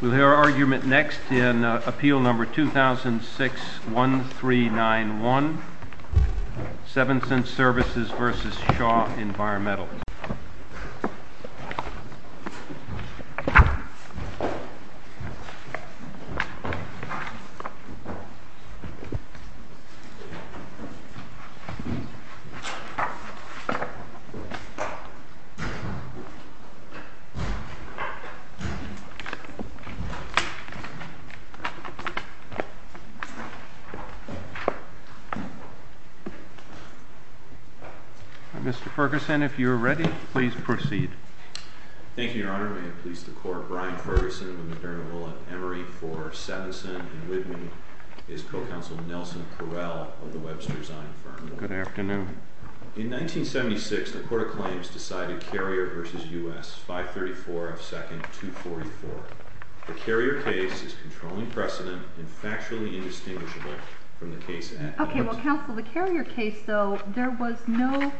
We'll hear our argument next in Appeal No. 2006-1391, Sevenson Services v. Shaw Environmental. Mr. Ferguson, if you are ready, please proceed. Thank you, Your Honor. May it please the Court, Brian Ferguson of the McDermott & Willett, Emory v. Sevenson, and with me is Co-Counsel Nelson Correll of the Webster Zine firm. Good afternoon. In 1976, the Court of Claims decided Carrier v. U.S. 534 F. Second 244. The Carrier case is controlling precedent and factually indistinguishable from the case at hand. Okay, well, Counsel, the Carrier case, though, there was no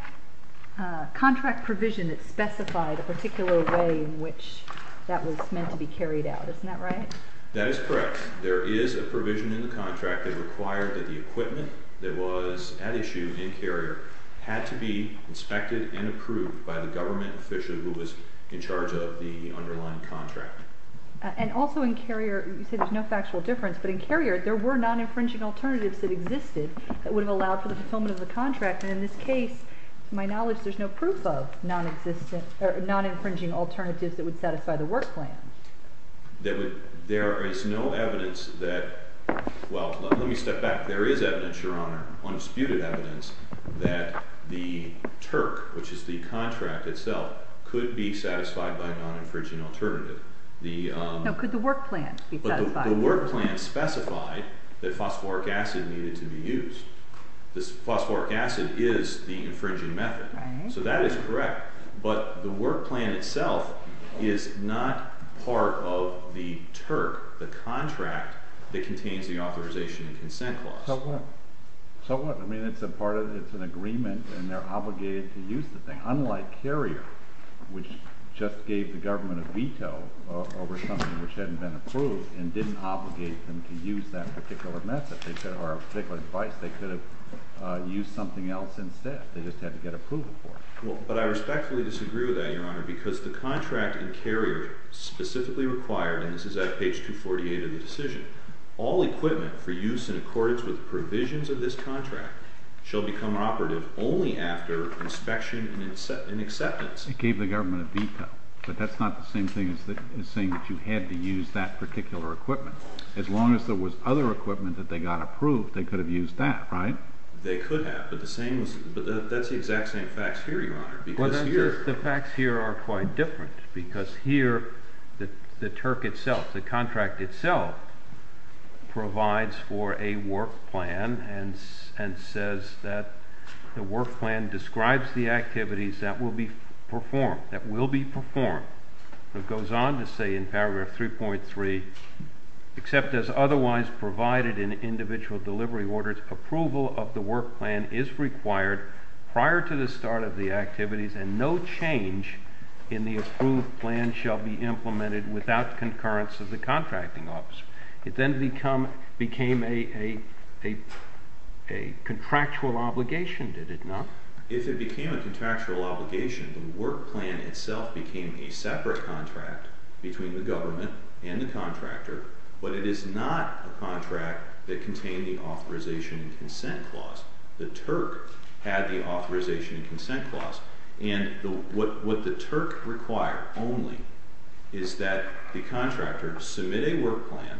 contract provision that specified a particular way in which that was meant to be carried out. Isn't that right? That is correct. There is a provision in the contract that required that the equipment that was at issue in Carrier had to be inspected and approved by the government official who was in charge of the underlying contract. And also in Carrier, you said there's no factual difference, but in Carrier, there were non-infringing alternatives that existed that would have allowed for the fulfillment of the contract, and in this case, to my knowledge, there's no proof of non-infringing alternatives that would satisfy the work plan. There is no evidence that—well, let me step back. There is evidence, Your Honor, undisputed evidence, that the TURC, which is the contract itself, could be satisfied by a non-infringing alternative. Now, could the work plan be satisfied? The work plan specified that phosphoric acid needed to be used. Phosphoric acid is the infringing method, so that is correct, but the work plan itself is not part of the TURC, the contract that contains the authorization and consent clause. So what? So what? I mean, it's a part of—it's an agreement, and they're obligated to use the thing, unlike Carrier, which just gave the government a veto over something which hadn't been approved and didn't obligate them to use that particular method or particular device. They could have used something else instead. They just had to get approval for it. Well, but I respectfully disagree with that, Your Honor, because the contract in Carrier specifically required—and this is at page 248 of the decision—all equipment for use in accordance with provisions of this contract shall become operative only after inspection and acceptance. It gave the government a veto, but that's not the same thing as saying that you had to use that particular equipment. As long as there was other equipment that they got approved, they could have used that, right? They could have, but that's the exact same facts here, Your Honor, because here— It goes on to say in paragraph 3.3, became a separate contract between the government and the contractor, but it is not a contract that contained the authorization and consent clause. The TURC had the authorization and consent clause, and what the TURC required only is that the contractor submit a work plan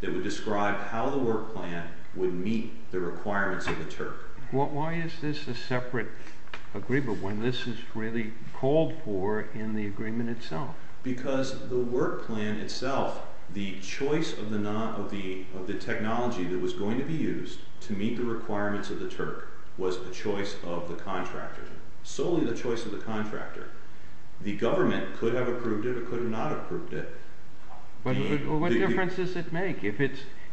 that would describe how the work plan would meet the requirements of the TURC. Why is this a separate agreement when this is really called for in the agreement itself? Because the work plan itself, the choice of the technology that was going to be used to meet the requirements of the TURC was the choice of the contractor, solely the choice of the contractor. The government could have approved it or could have not approved it. But what difference does it make? If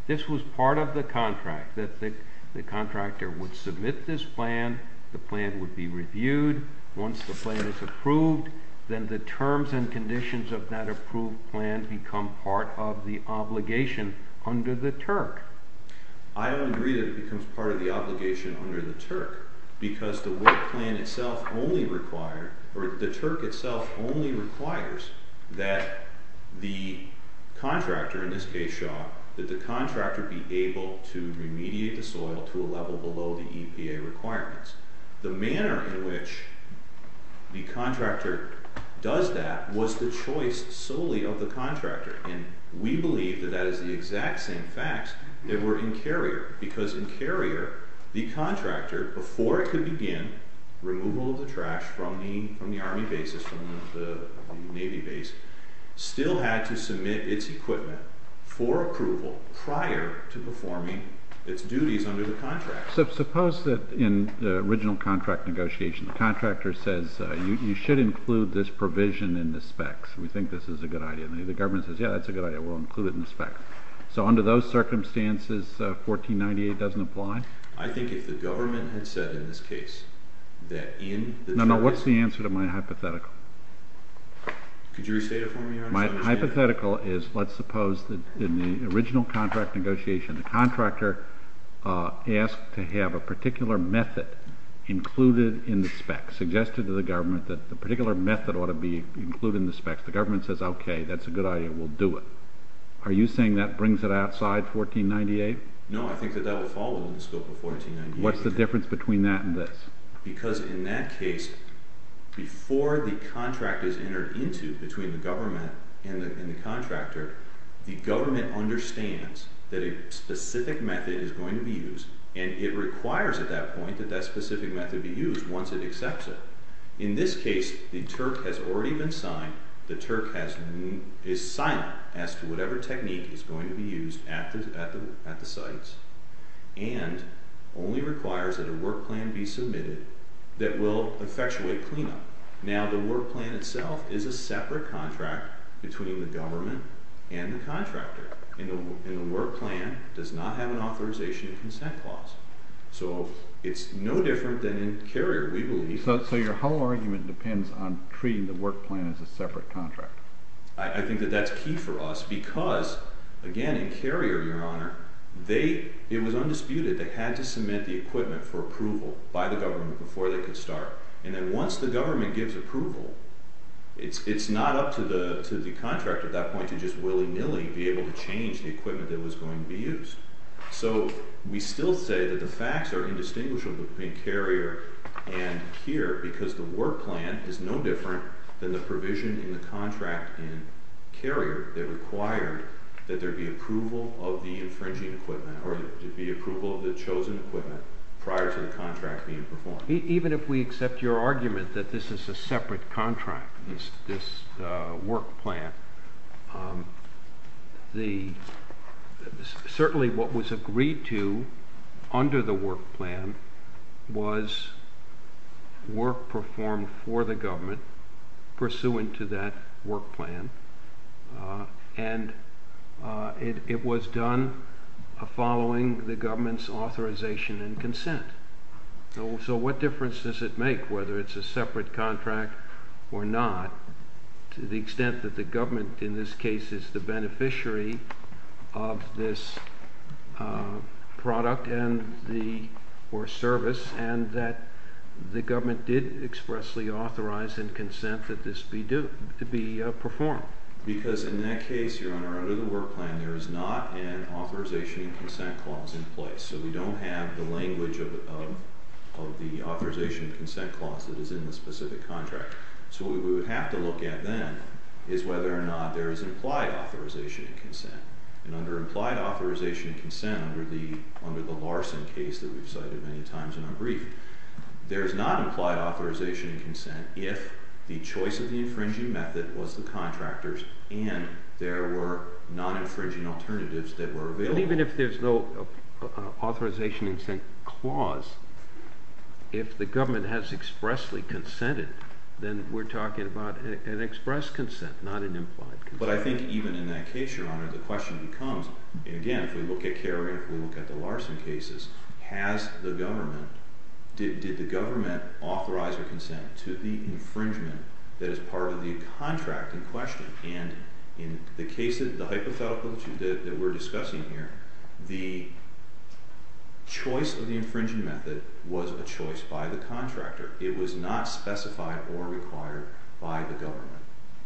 this was part of the contract, that the contractor would submit this plan, the plan would be reviewed, once the plan is approved, then the terms and conditions of that approved plan become part of the obligation under the TURC. I don't agree that it becomes part of the obligation under the TURC, because the work plan itself only required—or the TURC itself only requires that the contractor, in this case Shaw, that the contractor be able to remediate the soil to a level below the EPA requirements. The manner in which the contractor does that was the choice solely of the contractor. And we believe that that is the exact same facts that were in Carrier. Because in Carrier, the contractor, before it could begin removal of the trash from the Army bases, from the Navy base, still had to submit its equipment for approval prior to performing its duties under the contract. So suppose that in the original contract negotiation, the contractor says, you should include this provision in the specs. We think this is a good idea. And the government says, yeah, that's a good idea. We'll include it in the specs. So under those circumstances, 1498 doesn't apply? I think if the government had said in this case that in— No, no. What's the answer to my hypothetical? Could you restate it for me? My hypothetical is, let's suppose that in the original contract negotiation, the contractor asked to have a particular method included in the specs, suggested to the government that the particular method ought to be included in the specs. The government says, okay, that's a good idea. We'll do it. Are you saying that brings it outside 1498? No, I think that that will fall within the scope of 1498. What's the difference between that and this? Because in that case, before the contract is entered into between the government and the contractor, the government understands that a specific method is going to be used, and it requires at that point that that specific method be used once it accepts it. In this case, the TURC has already been signed. The TURC is silent as to whatever technique is going to be used at the sites, and only requires that a work plan be submitted that will effectuate cleanup. Now, the work plan itself is a separate contract between the government and the contractor, and the work plan does not have an authorization consent clause. So it's no different than in Carrier, we believe. So your whole argument depends on treating the work plan as a separate contract. I think that that's key for us because, again, in Carrier, Your Honor, it was undisputed they had to submit the equipment for approval by the government before they could start. And then once the government gives approval, it's not up to the contractor at that point to just willy-nilly be able to change the equipment that was going to be used. So we still say that the facts are indistinguishable between Carrier and here because the work plan is no different than the provision in the contract in Carrier that required that there be approval of the infringing equipment or there be approval of the chosen equipment prior to the contract being performed. Even if we accept your argument that this is a separate contract, this work plan, certainly what was agreed to under the work plan was work performed for the government pursuant to that work plan, and it was done following the government's authorization and consent. So what difference does it make whether it's a separate contract or not to the extent that the government in this case is the beneficiary of this product or service and that the government did expressly authorize and consent that this be performed? Because in that case, Your Honor, under the work plan, there is not an authorization and consent clause in place. So we don't have the language of the authorization and consent clause that is in the specific contract. So what we would have to look at then is whether or not there is implied authorization and consent. And under implied authorization and consent, under the Larson case that we've cited many times in our brief, there is not implied authorization and consent if the choice of the infringing method was the contractor's and there were non-infringing alternatives that were available. Even if there's no authorization and consent clause, if the government has expressly consented, then we're talking about an express consent, not an implied consent. But I think even in that case, Your Honor, the question becomes, and again, if we look at Kerry, if we look at the Larson cases, has the government, did the government authorize or consent to the infringement that is part of the contract in question? And in the hypothetical that we're discussing here, the choice of the infringing method was a choice by the contractor. It was not specified or required by the government.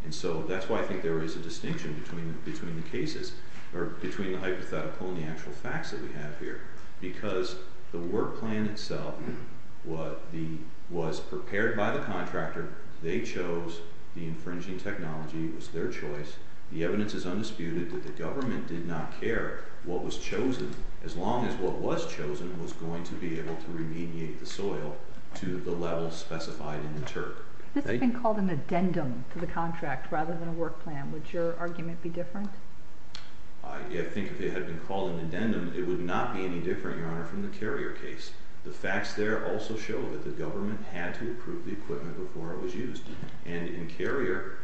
And so that's why I think there is a distinction between the cases, or between the hypothetical and the actual facts that we have here, because the work plan itself was prepared by the contractor. They chose the infringing technology. It was their choice. The evidence is undisputed that the government did not care what was chosen as long as what was chosen was going to be able to remediate the soil to the level specified in the TURC. If this had been called an addendum to the contract rather than a work plan, would your argument be different? I think if it had been called an addendum, it would not be any different, Your Honor, from the Carrier case. The facts there also show that the government had to approve the equipment before it was used. And in Carrier,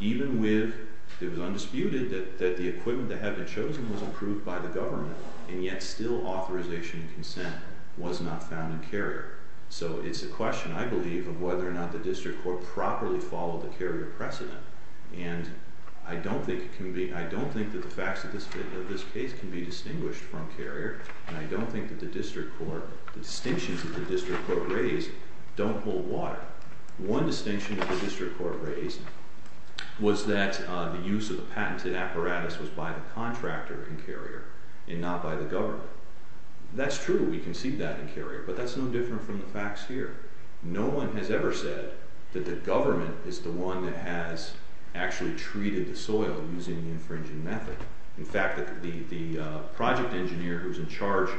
even with, it was undisputed that the equipment that had been chosen was approved by the government, and yet still authorization and consent was not found in Carrier. So it's a question, I believe, of whether or not the District Court properly followed the Carrier precedent. And I don't think that the facts of this case can be distinguished from Carrier, and I don't think that the distinctions that the District Court raised don't hold water. One distinction that the District Court raised was that the use of the patented apparatus was by the contractor in Carrier and not by the government. That's true, we can see that in Carrier, but that's no different from the facts here. No one has ever said that the government is the one that has actually treated the soil using the infringing method. In fact, the project engineer who was in charge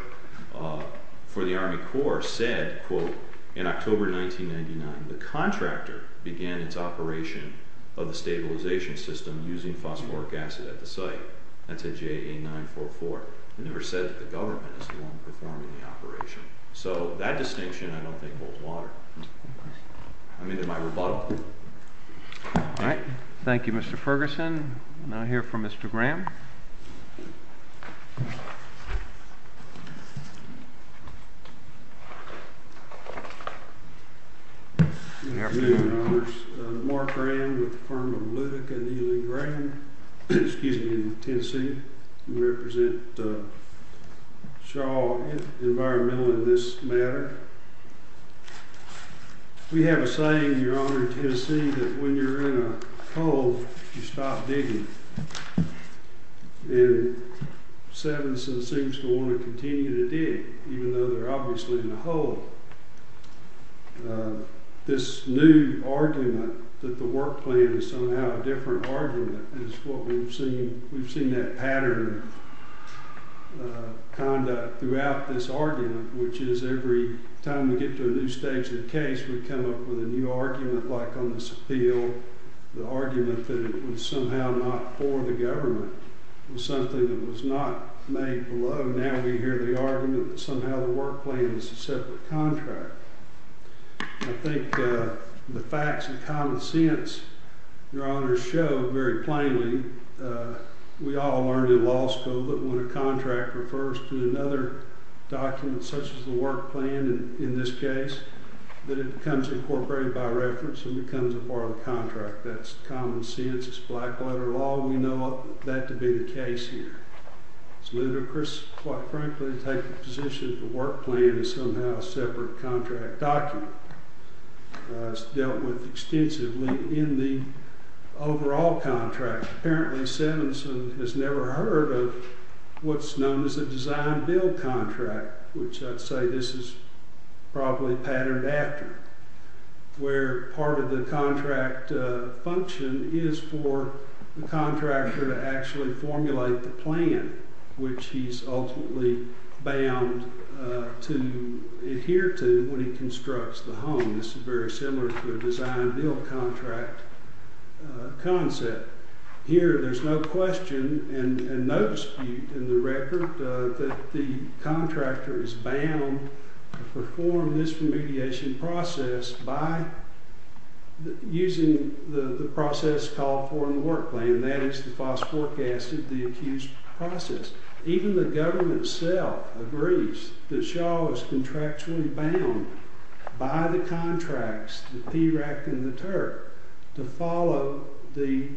for the Army Corps said, quote, in October 1999, the contractor began its operation of the stabilization system using phosphoric acid at the site. That's a JA-944. They never said that the government is the one performing the operation. So that distinction I don't think holds water. I mean, am I rebuttal? All right. Thank you, Mr. Ferguson. We'll now hear from Mr. Graham. Good afternoon, Your Honors. Mark Graham with the firm of Ludic and Ely Graham, excuse me, in Tennessee. We represent Shaw Environmental in this matter. We have a saying, Your Honor, in Tennessee, that when you're in a hole, you stop digging. And Sevenson seems to want to continue to dig, even though they're obviously in a hole. This new argument that the work plan is somehow a different argument is what we've seen. We've seen that pattern of conduct throughout this argument, which is every time we get to a new stage of the case, we come up with a new argument. Like on this appeal, the argument that it was somehow not for the government was something that was not made below. Now we hear the argument that somehow the work plan is a separate contract. I think the facts and common sense, Your Honors, show very plainly we all learned in law school that when a contract refers to another document, such as the work plan in this case, that it becomes incorporated by reference and becomes a part of the contract. That's common sense. It's black-letter law. We know that to be the case here. It's ludicrous, quite frankly, to take the position that the work plan is somehow a separate contract document. It's dealt with extensively in the overall contract. Apparently, Seminsen has never heard of what's known as a design-build contract, which I'd say this is probably patterned after, where part of the contract function is for the contractor to actually formulate the plan, which he's ultimately bound to adhere to when he constructs the home. This is very similar to a design-build contract concept. Here there's no question and no dispute in the record that the contractor is bound to perform this remediation process by using the process called for in the work plan, that is, the FOSS forecasted, the accused process. Even the government itself agrees that Shaw is contractually bound by the contracts, the PRAC and the TURC, to follow the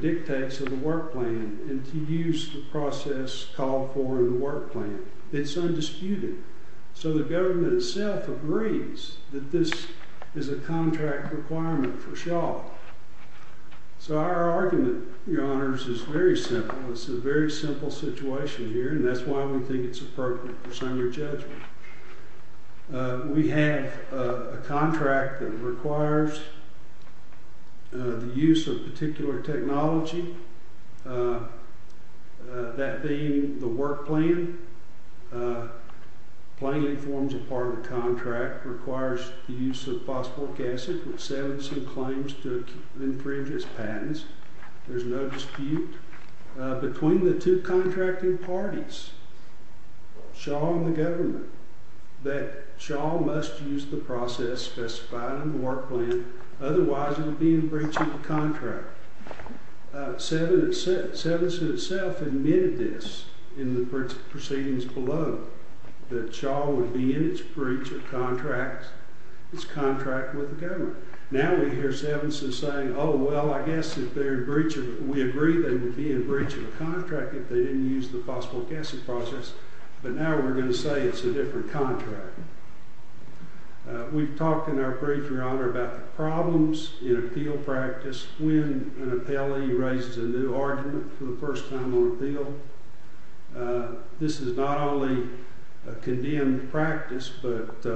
dictates of the work plan and to use the process called for in the work plan. It's undisputed. So the government itself agrees that this is a contract requirement for Shaw. So our argument, Your Honors, is very simple. It's a very simple situation here, and that's why we think it's appropriate for senior judgment. We have a contract that requires the use of a particular technology. That being the work plan plainly forms a part of the contract, requires the use of FOSS forecasted, which Seminsen claims to infringe its patents. There's no dispute. Between the two contracting parties, Shaw and the government, that Shaw must use the process specified in the work plan. Otherwise it would be in breach of the contract. Seminsen himself admitted this in the proceedings below, that Shaw would be in its breach of contract with the government. Now we hear Seminsen saying, oh, well, I guess if they're in breach of it, we agree they would be in breach of the contract if they didn't use the FOSS forecasted process. But now we're going to say it's a different contract. We've talked in our brief, Your Honor, about the problems in appeal practice when an appellee raises a new argument for the first time on appeal. This is not only a condemned practice, but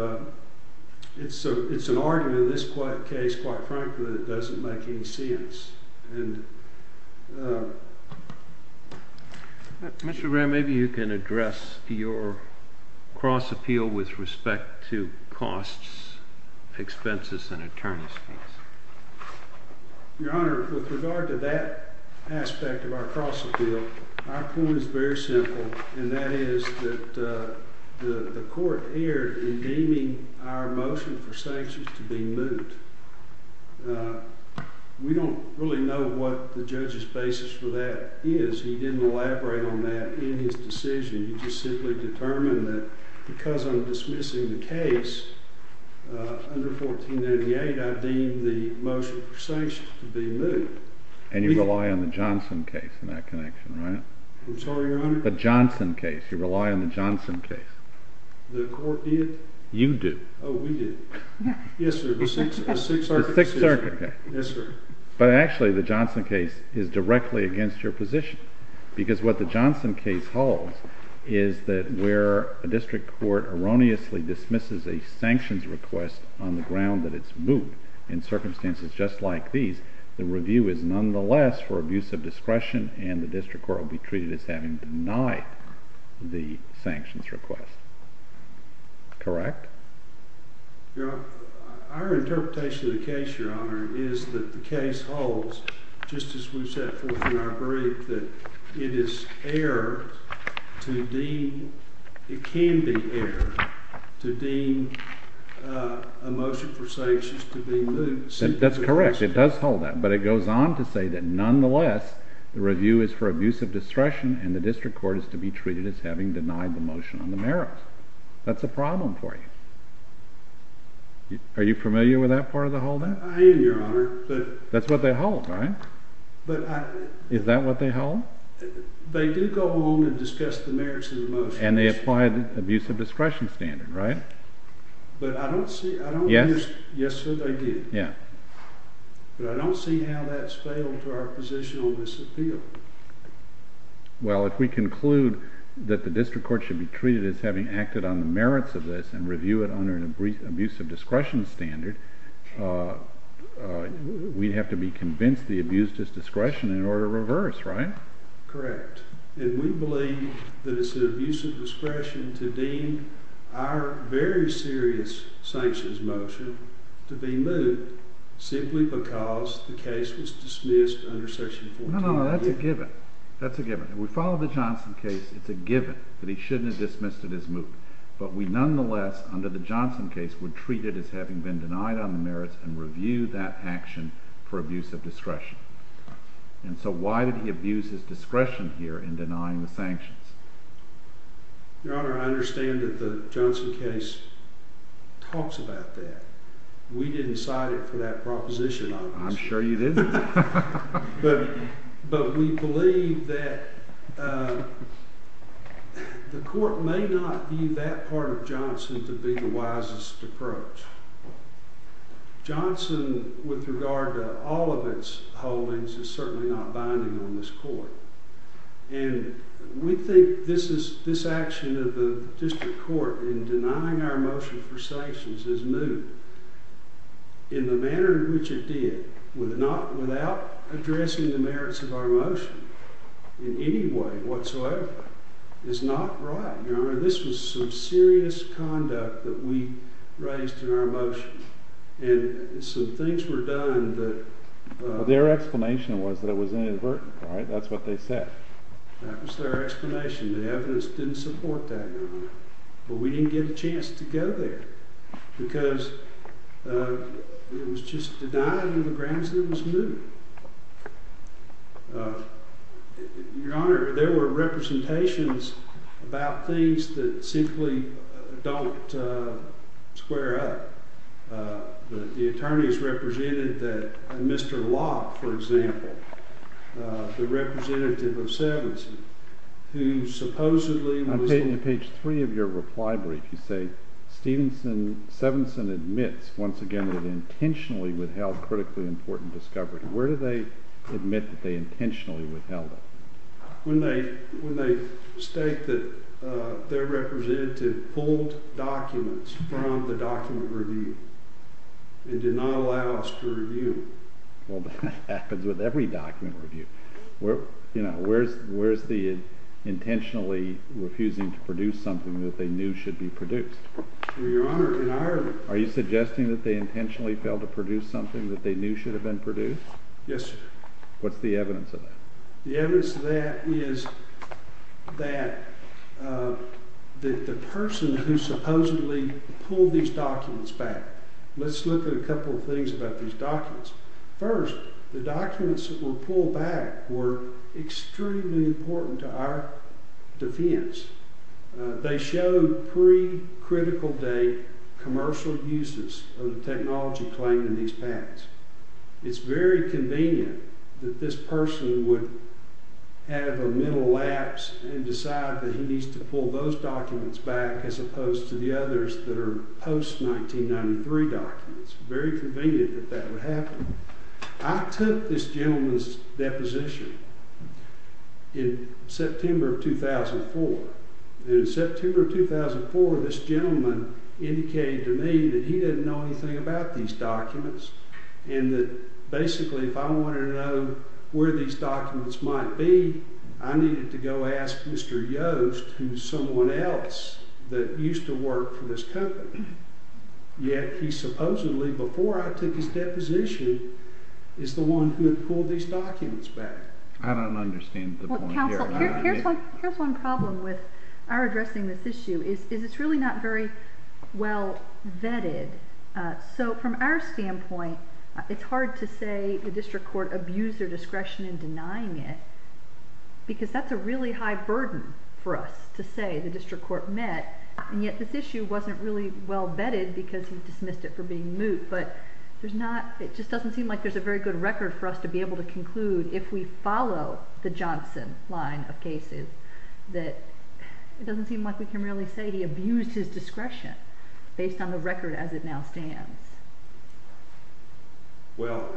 it's an argument in this case, quite frankly, that doesn't make any sense. Mr. Graham, maybe you can address your cross appeal with respect to costs, expenses, and attorneys fees. Your Honor, with regard to that aspect of our cross appeal, our point is very simple, and that is that the court erred in deeming our motion for sanctions to be moot. We don't really know what the judge's basis for that is. He didn't elaborate on that in his decision. He just simply determined that because I'm dismissing the case under 1498, I deem the motion for sanctions to be moot. And you rely on the Johnson case in that connection, right? I'm sorry, Your Honor? The Johnson case. You rely on the Johnson case. The court did? You did. Oh, we did. Yes, sir. The Sixth Circuit did. The Sixth Circuit did. Yes, sir. But actually, the Johnson case is directly against your position, because what the Johnson case holds is that where a district court erroneously dismisses a sanctions request on the ground that it's moot, in circumstances just like these, the review is nonetheless for abuse of discretion, and the district court will be treated as having denied the sanctions request. Correct? Our interpretation of the case, Your Honor, is that the case holds, just as we've set forth in our brief, that it is error to deem, it can be error, to deem a motion for sanctions to be moot. That's correct. It does hold that. But it goes on to say that nonetheless, the review is for abuse of discretion, and the district court is to be treated as having denied the motion on the merits. That's a problem for you. Are you familiar with that part of the whole thing? I am, Your Honor. That's what they hold, right? But I... Is that what they hold? They do go on and discuss the merits of the motion. And they apply the abuse of discretion standard, right? But I don't see... Yes? Yes, sir, they do. Yeah. But I don't see how that's fatal to our position on this appeal. Well, if we conclude that the district court should be treated as having acted on the merits of this and review it under an abuse of discretion standard, we'd have to be convinced the abuse is discretion in order to reverse, right? Correct. And we believe that it's an abuse of discretion to deem our very serious sanctions motion to be moot simply because the case was dismissed under Section 14. No, no, no, that's a given. That's a given. If we follow the Johnson case, it's a given that he shouldn't have dismissed it as moot. But we nonetheless, under the Johnson case, would treat it as having been denied on the merits and review that action for abuse of discretion. And so why did he abuse his discretion here in denying the sanctions? Your Honor, I understand that the Johnson case talks about that. We didn't cite it for that proposition, obviously. I'm sure you didn't. But we believe that the court may not view that part of Johnson to be the wisest approach. Johnson, with regard to all of its holdings, is certainly not binding on this court. And we think this action of the district court in denying our motion for sanctions is moot in the manner in which it did, without addressing the merits of our motion in any way whatsoever, is not right. Your Honor, this was some serious conduct that we raised in our motion. And some things were done that— Their explanation was that it was inadvertent, right? That's what they said. That was their explanation. The evidence didn't support that, Your Honor. But we didn't get a chance to go there because it was just denied in the grounds that it was moot. Your Honor, there were representations about things that simply don't square up. The attorneys represented that. Mr. Locke, for example, the representative of Severance, who supposedly was— In page 3 of your reply brief, you say, Severance admits, once again, that it intentionally withheld critically important discovery. Where do they admit that they intentionally withheld it? When they state that their representative pulled documents from the document review and did not allow us to review. Well, that happens with every document review. Where's the intentionally refusing to produce something that they knew should be produced? Your Honor, in Ireland— Are you suggesting that they intentionally failed to produce something that they knew should have been produced? Yes, sir. What's the evidence of that? The evidence of that is that the person who supposedly pulled these documents back— Let's look at a couple of things about these documents. First, the documents that were pulled back were extremely important to our defense. They showed pre-critical date commercial uses of the technology claimed in these patents. It's very convenient that this person would have a mental lapse and decide that he needs to pull those documents back as opposed to the others that are post-1993 documents. It's very convenient that that would happen. I took this gentleman's deposition in September of 2004. In September of 2004, this gentleman indicated to me that he didn't know anything about these documents and that basically if I wanted to know where these documents might be, I needed to go ask Mr. Yost, who's someone else that used to work for this company. Yet he supposedly, before I took his deposition, is the one who pulled these documents back. I don't understand the point here. Counsel, here's one problem with our addressing this issue. It's really not very well vetted. So from our standpoint, it's hard to say the district court abused their discretion in denying it because that's a really high burden for us to say the district court met, and yet this issue wasn't really well vetted because he dismissed it for being moot. But it just doesn't seem like there's a very good record for us to be able to conclude if we follow the Johnson line of cases that it doesn't seem like we can really say he abused his discretion based on the record as it now stands. Well,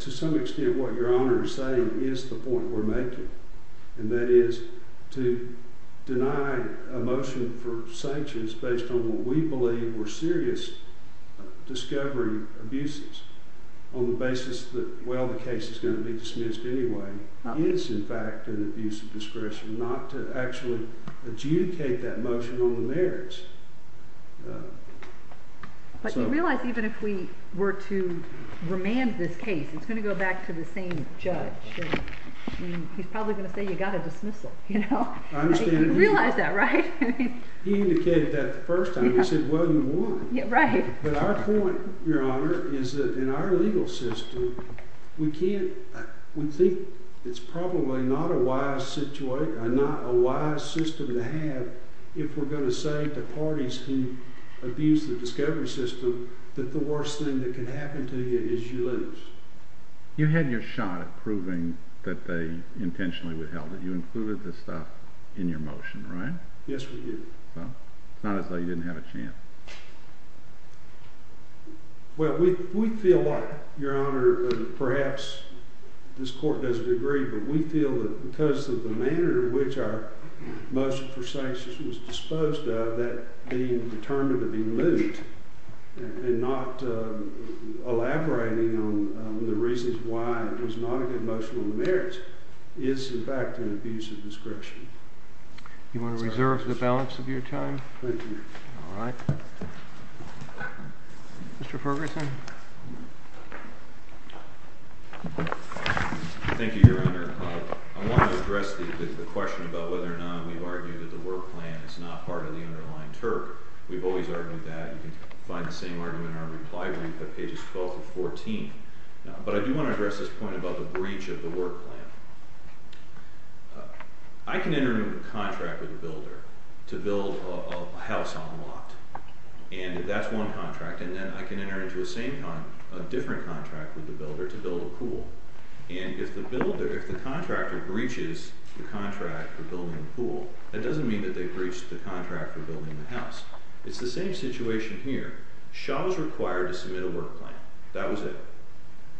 to some extent what Your Honor is saying is the point we're making, and that is to deny a motion for sanctions based on what we believe were serious discovery abuses on the basis that, well, the case is going to be dismissed anyway, is in fact an abuse of discretion, not to actually adjudicate that motion on the merits. But you realize even if we were to remand this case, it's going to go back to the same judge. He's probably going to say you got a dismissal. You realize that, right? He indicated that the first time. He said, well, you won. But our point, Your Honor, is that in our legal system, we think it's probably not a wise system to have if we're going to say to parties who abuse the discovery system that the worst thing that can happen to you is you lose. You had your shot at proving that they intentionally withheld it. You included this stuff in your motion, right? Yes, we did. So it's not as though you didn't have a chance. Well, we feel like, Your Honor, perhaps this court doesn't agree, but we feel that because of the manner in which our motion for sanctions was disposed of, that being determined to be lewd and not elaborating on the reasons why it was not a good motion on the merits is, in fact, an abuse of discretion. You want to reserve the balance of your time? Thank you. All right. Mr. Ferguson? Thank you, Your Honor. I want to address the question about whether or not we've argued that the work plan is not part of the underlying TURP. We've always argued that. You can find the same argument in our reply brief at pages 12-14. But I do want to address this point about the breach of the work plan. I can enter into a contract with a builder to build a house on a lot, and that's one contract. And then I can enter into a different contract with the builder to build a pool. And if the contractor breaches the contract for building the pool, that doesn't mean that they breached the contract for building the house. It's the same situation here. Shaw was required to submit a work plan. That was it.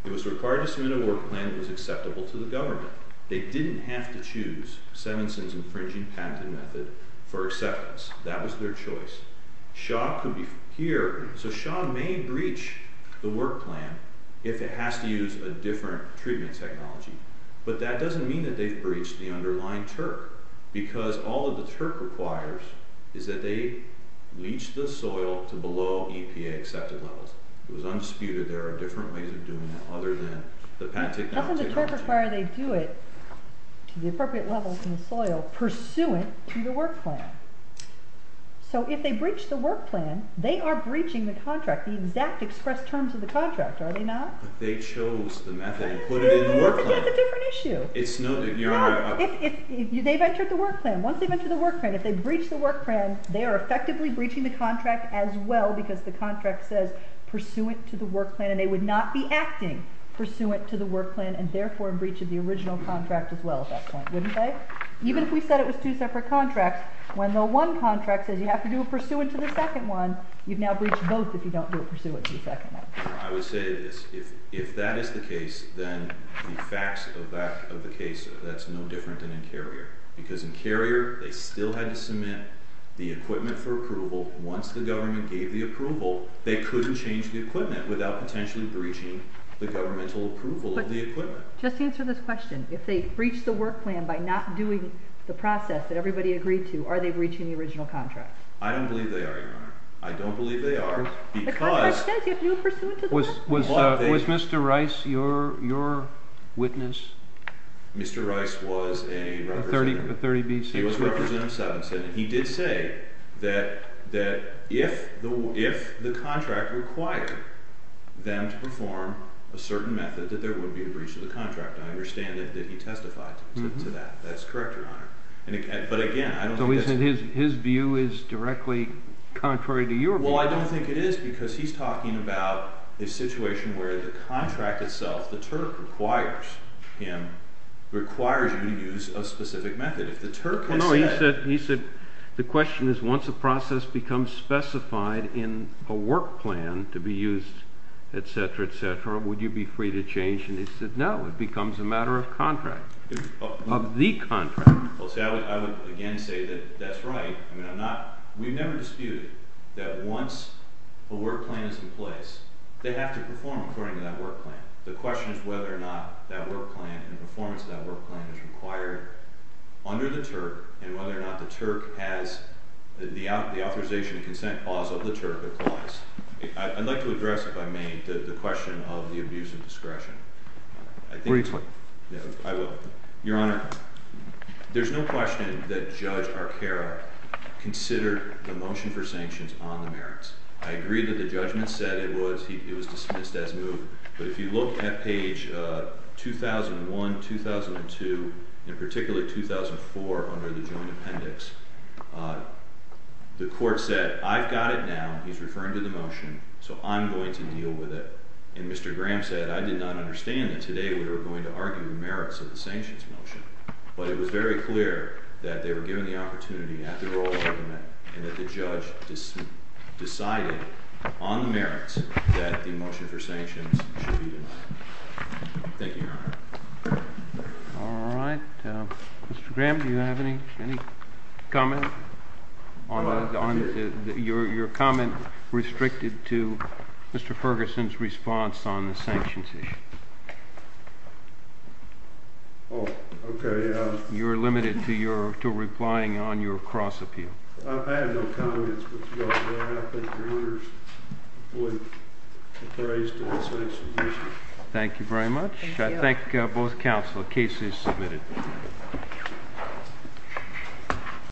He was required to submit a work plan that was acceptable to the government. They didn't have to choose Simonson's infringing patent method for acceptance. That was their choice. Shaw could be here. So Shaw may breach the work plan if it has to use a different treatment technology. But that doesn't mean that they've breached the underlying TURP because all that the TURP requires is that they leach the soil to below EPA-accepted levels. It was undisputed there are different ways of doing that other than the patent technology. That's what the TURP requires. They do it to the appropriate levels in the soil pursuant to the work plan. So if they breach the work plan, they are breaching the contract, the exact expressed terms of the contract, are they not? But they chose the method and put it in the work plan. But that's a different issue. It's not. They've entered the work plan. Once they've entered the work plan, if they breach the work plan, they are effectively breaching the contract as well because the contract says pursuant to the work plan and they would not be acting pursuant to the work plan and therefore breaching the original contract as well at that point, wouldn't they? Even if we said it was two separate contracts, when the one contract says you have to do a pursuant to the second one, you've now breached both if you don't do a pursuant to the second one. I would say this. If that is the case, then the facts of the case, that's no different than in Carrier. Because in Carrier, they still had to submit the equipment for approval. Once the government gave the approval, they couldn't change the equipment without potentially breaching the governmental approval of the equipment. But just to answer this question, if they breached the work plan by not doing the process that everybody agreed to, are they breaching the original contract? I don't believe they are, Your Honor. I don't believe they are because— The contract says you have to do a pursuant to the work plan. Was Mr. Rice your witness? Mr. Rice was a representative. A 30 B.C. witness. He was a representative of the 7th Senate. He did say that if the contract required them to perform a certain method, that there would be a breach of the contract. I understand that he testified to that. That's correct, Your Honor. But again, I don't think that's— So he said his view is directly contrary to your view. Well, I don't think it is because he's talking about a situation where the contract itself, the TURP requires him to use a specific method. If the TURP had said— No, he said the question is once a process becomes specified in a work plan to be used, etc., etc., would you be free to change? He said no. It becomes a matter of contract, of the contract. Well, see, I would again say that that's right. I mean, I'm not—we've never disputed that once a work plan is in place, they have to perform according to that work plan. The question is whether or not that work plan and the performance of that work plan is required under the TURP and whether or not the TURP has—the authorization and consent clause of the TURP applies. I'd like to address, if I may, the question of the abuse of discretion. I think— Were you— I will. Your Honor, there's no question that Judge Arcaro considered the motion for sanctions on the merits. I agree that the judgment said it was—it was dismissed as moved, but if you look at page 2001, 2002, and particularly 2004 under the joint appendix, the court said, I've got it now. He's referring to the motion, so I'm going to deal with it. And Mr. Graham said, I did not understand that today we were going to argue the merits of the sanctions motion, but it was very clear that they were given the opportunity at the oral argument and that the judge decided on the merits that the motion for sanctions should be denied. Thank you, Your Honor. All right. Mr. Graham, do you have any comment on your comment restricted to Mr. Ferguson's response on the sanctions issue? Oh, okay. You're limited to your—to replying on your cross-appeal. I've had no comments, but, Your Honor, I think the jurors would appraise the sanctions issue. Thank you very much. I thank both counsel. The case is submitted.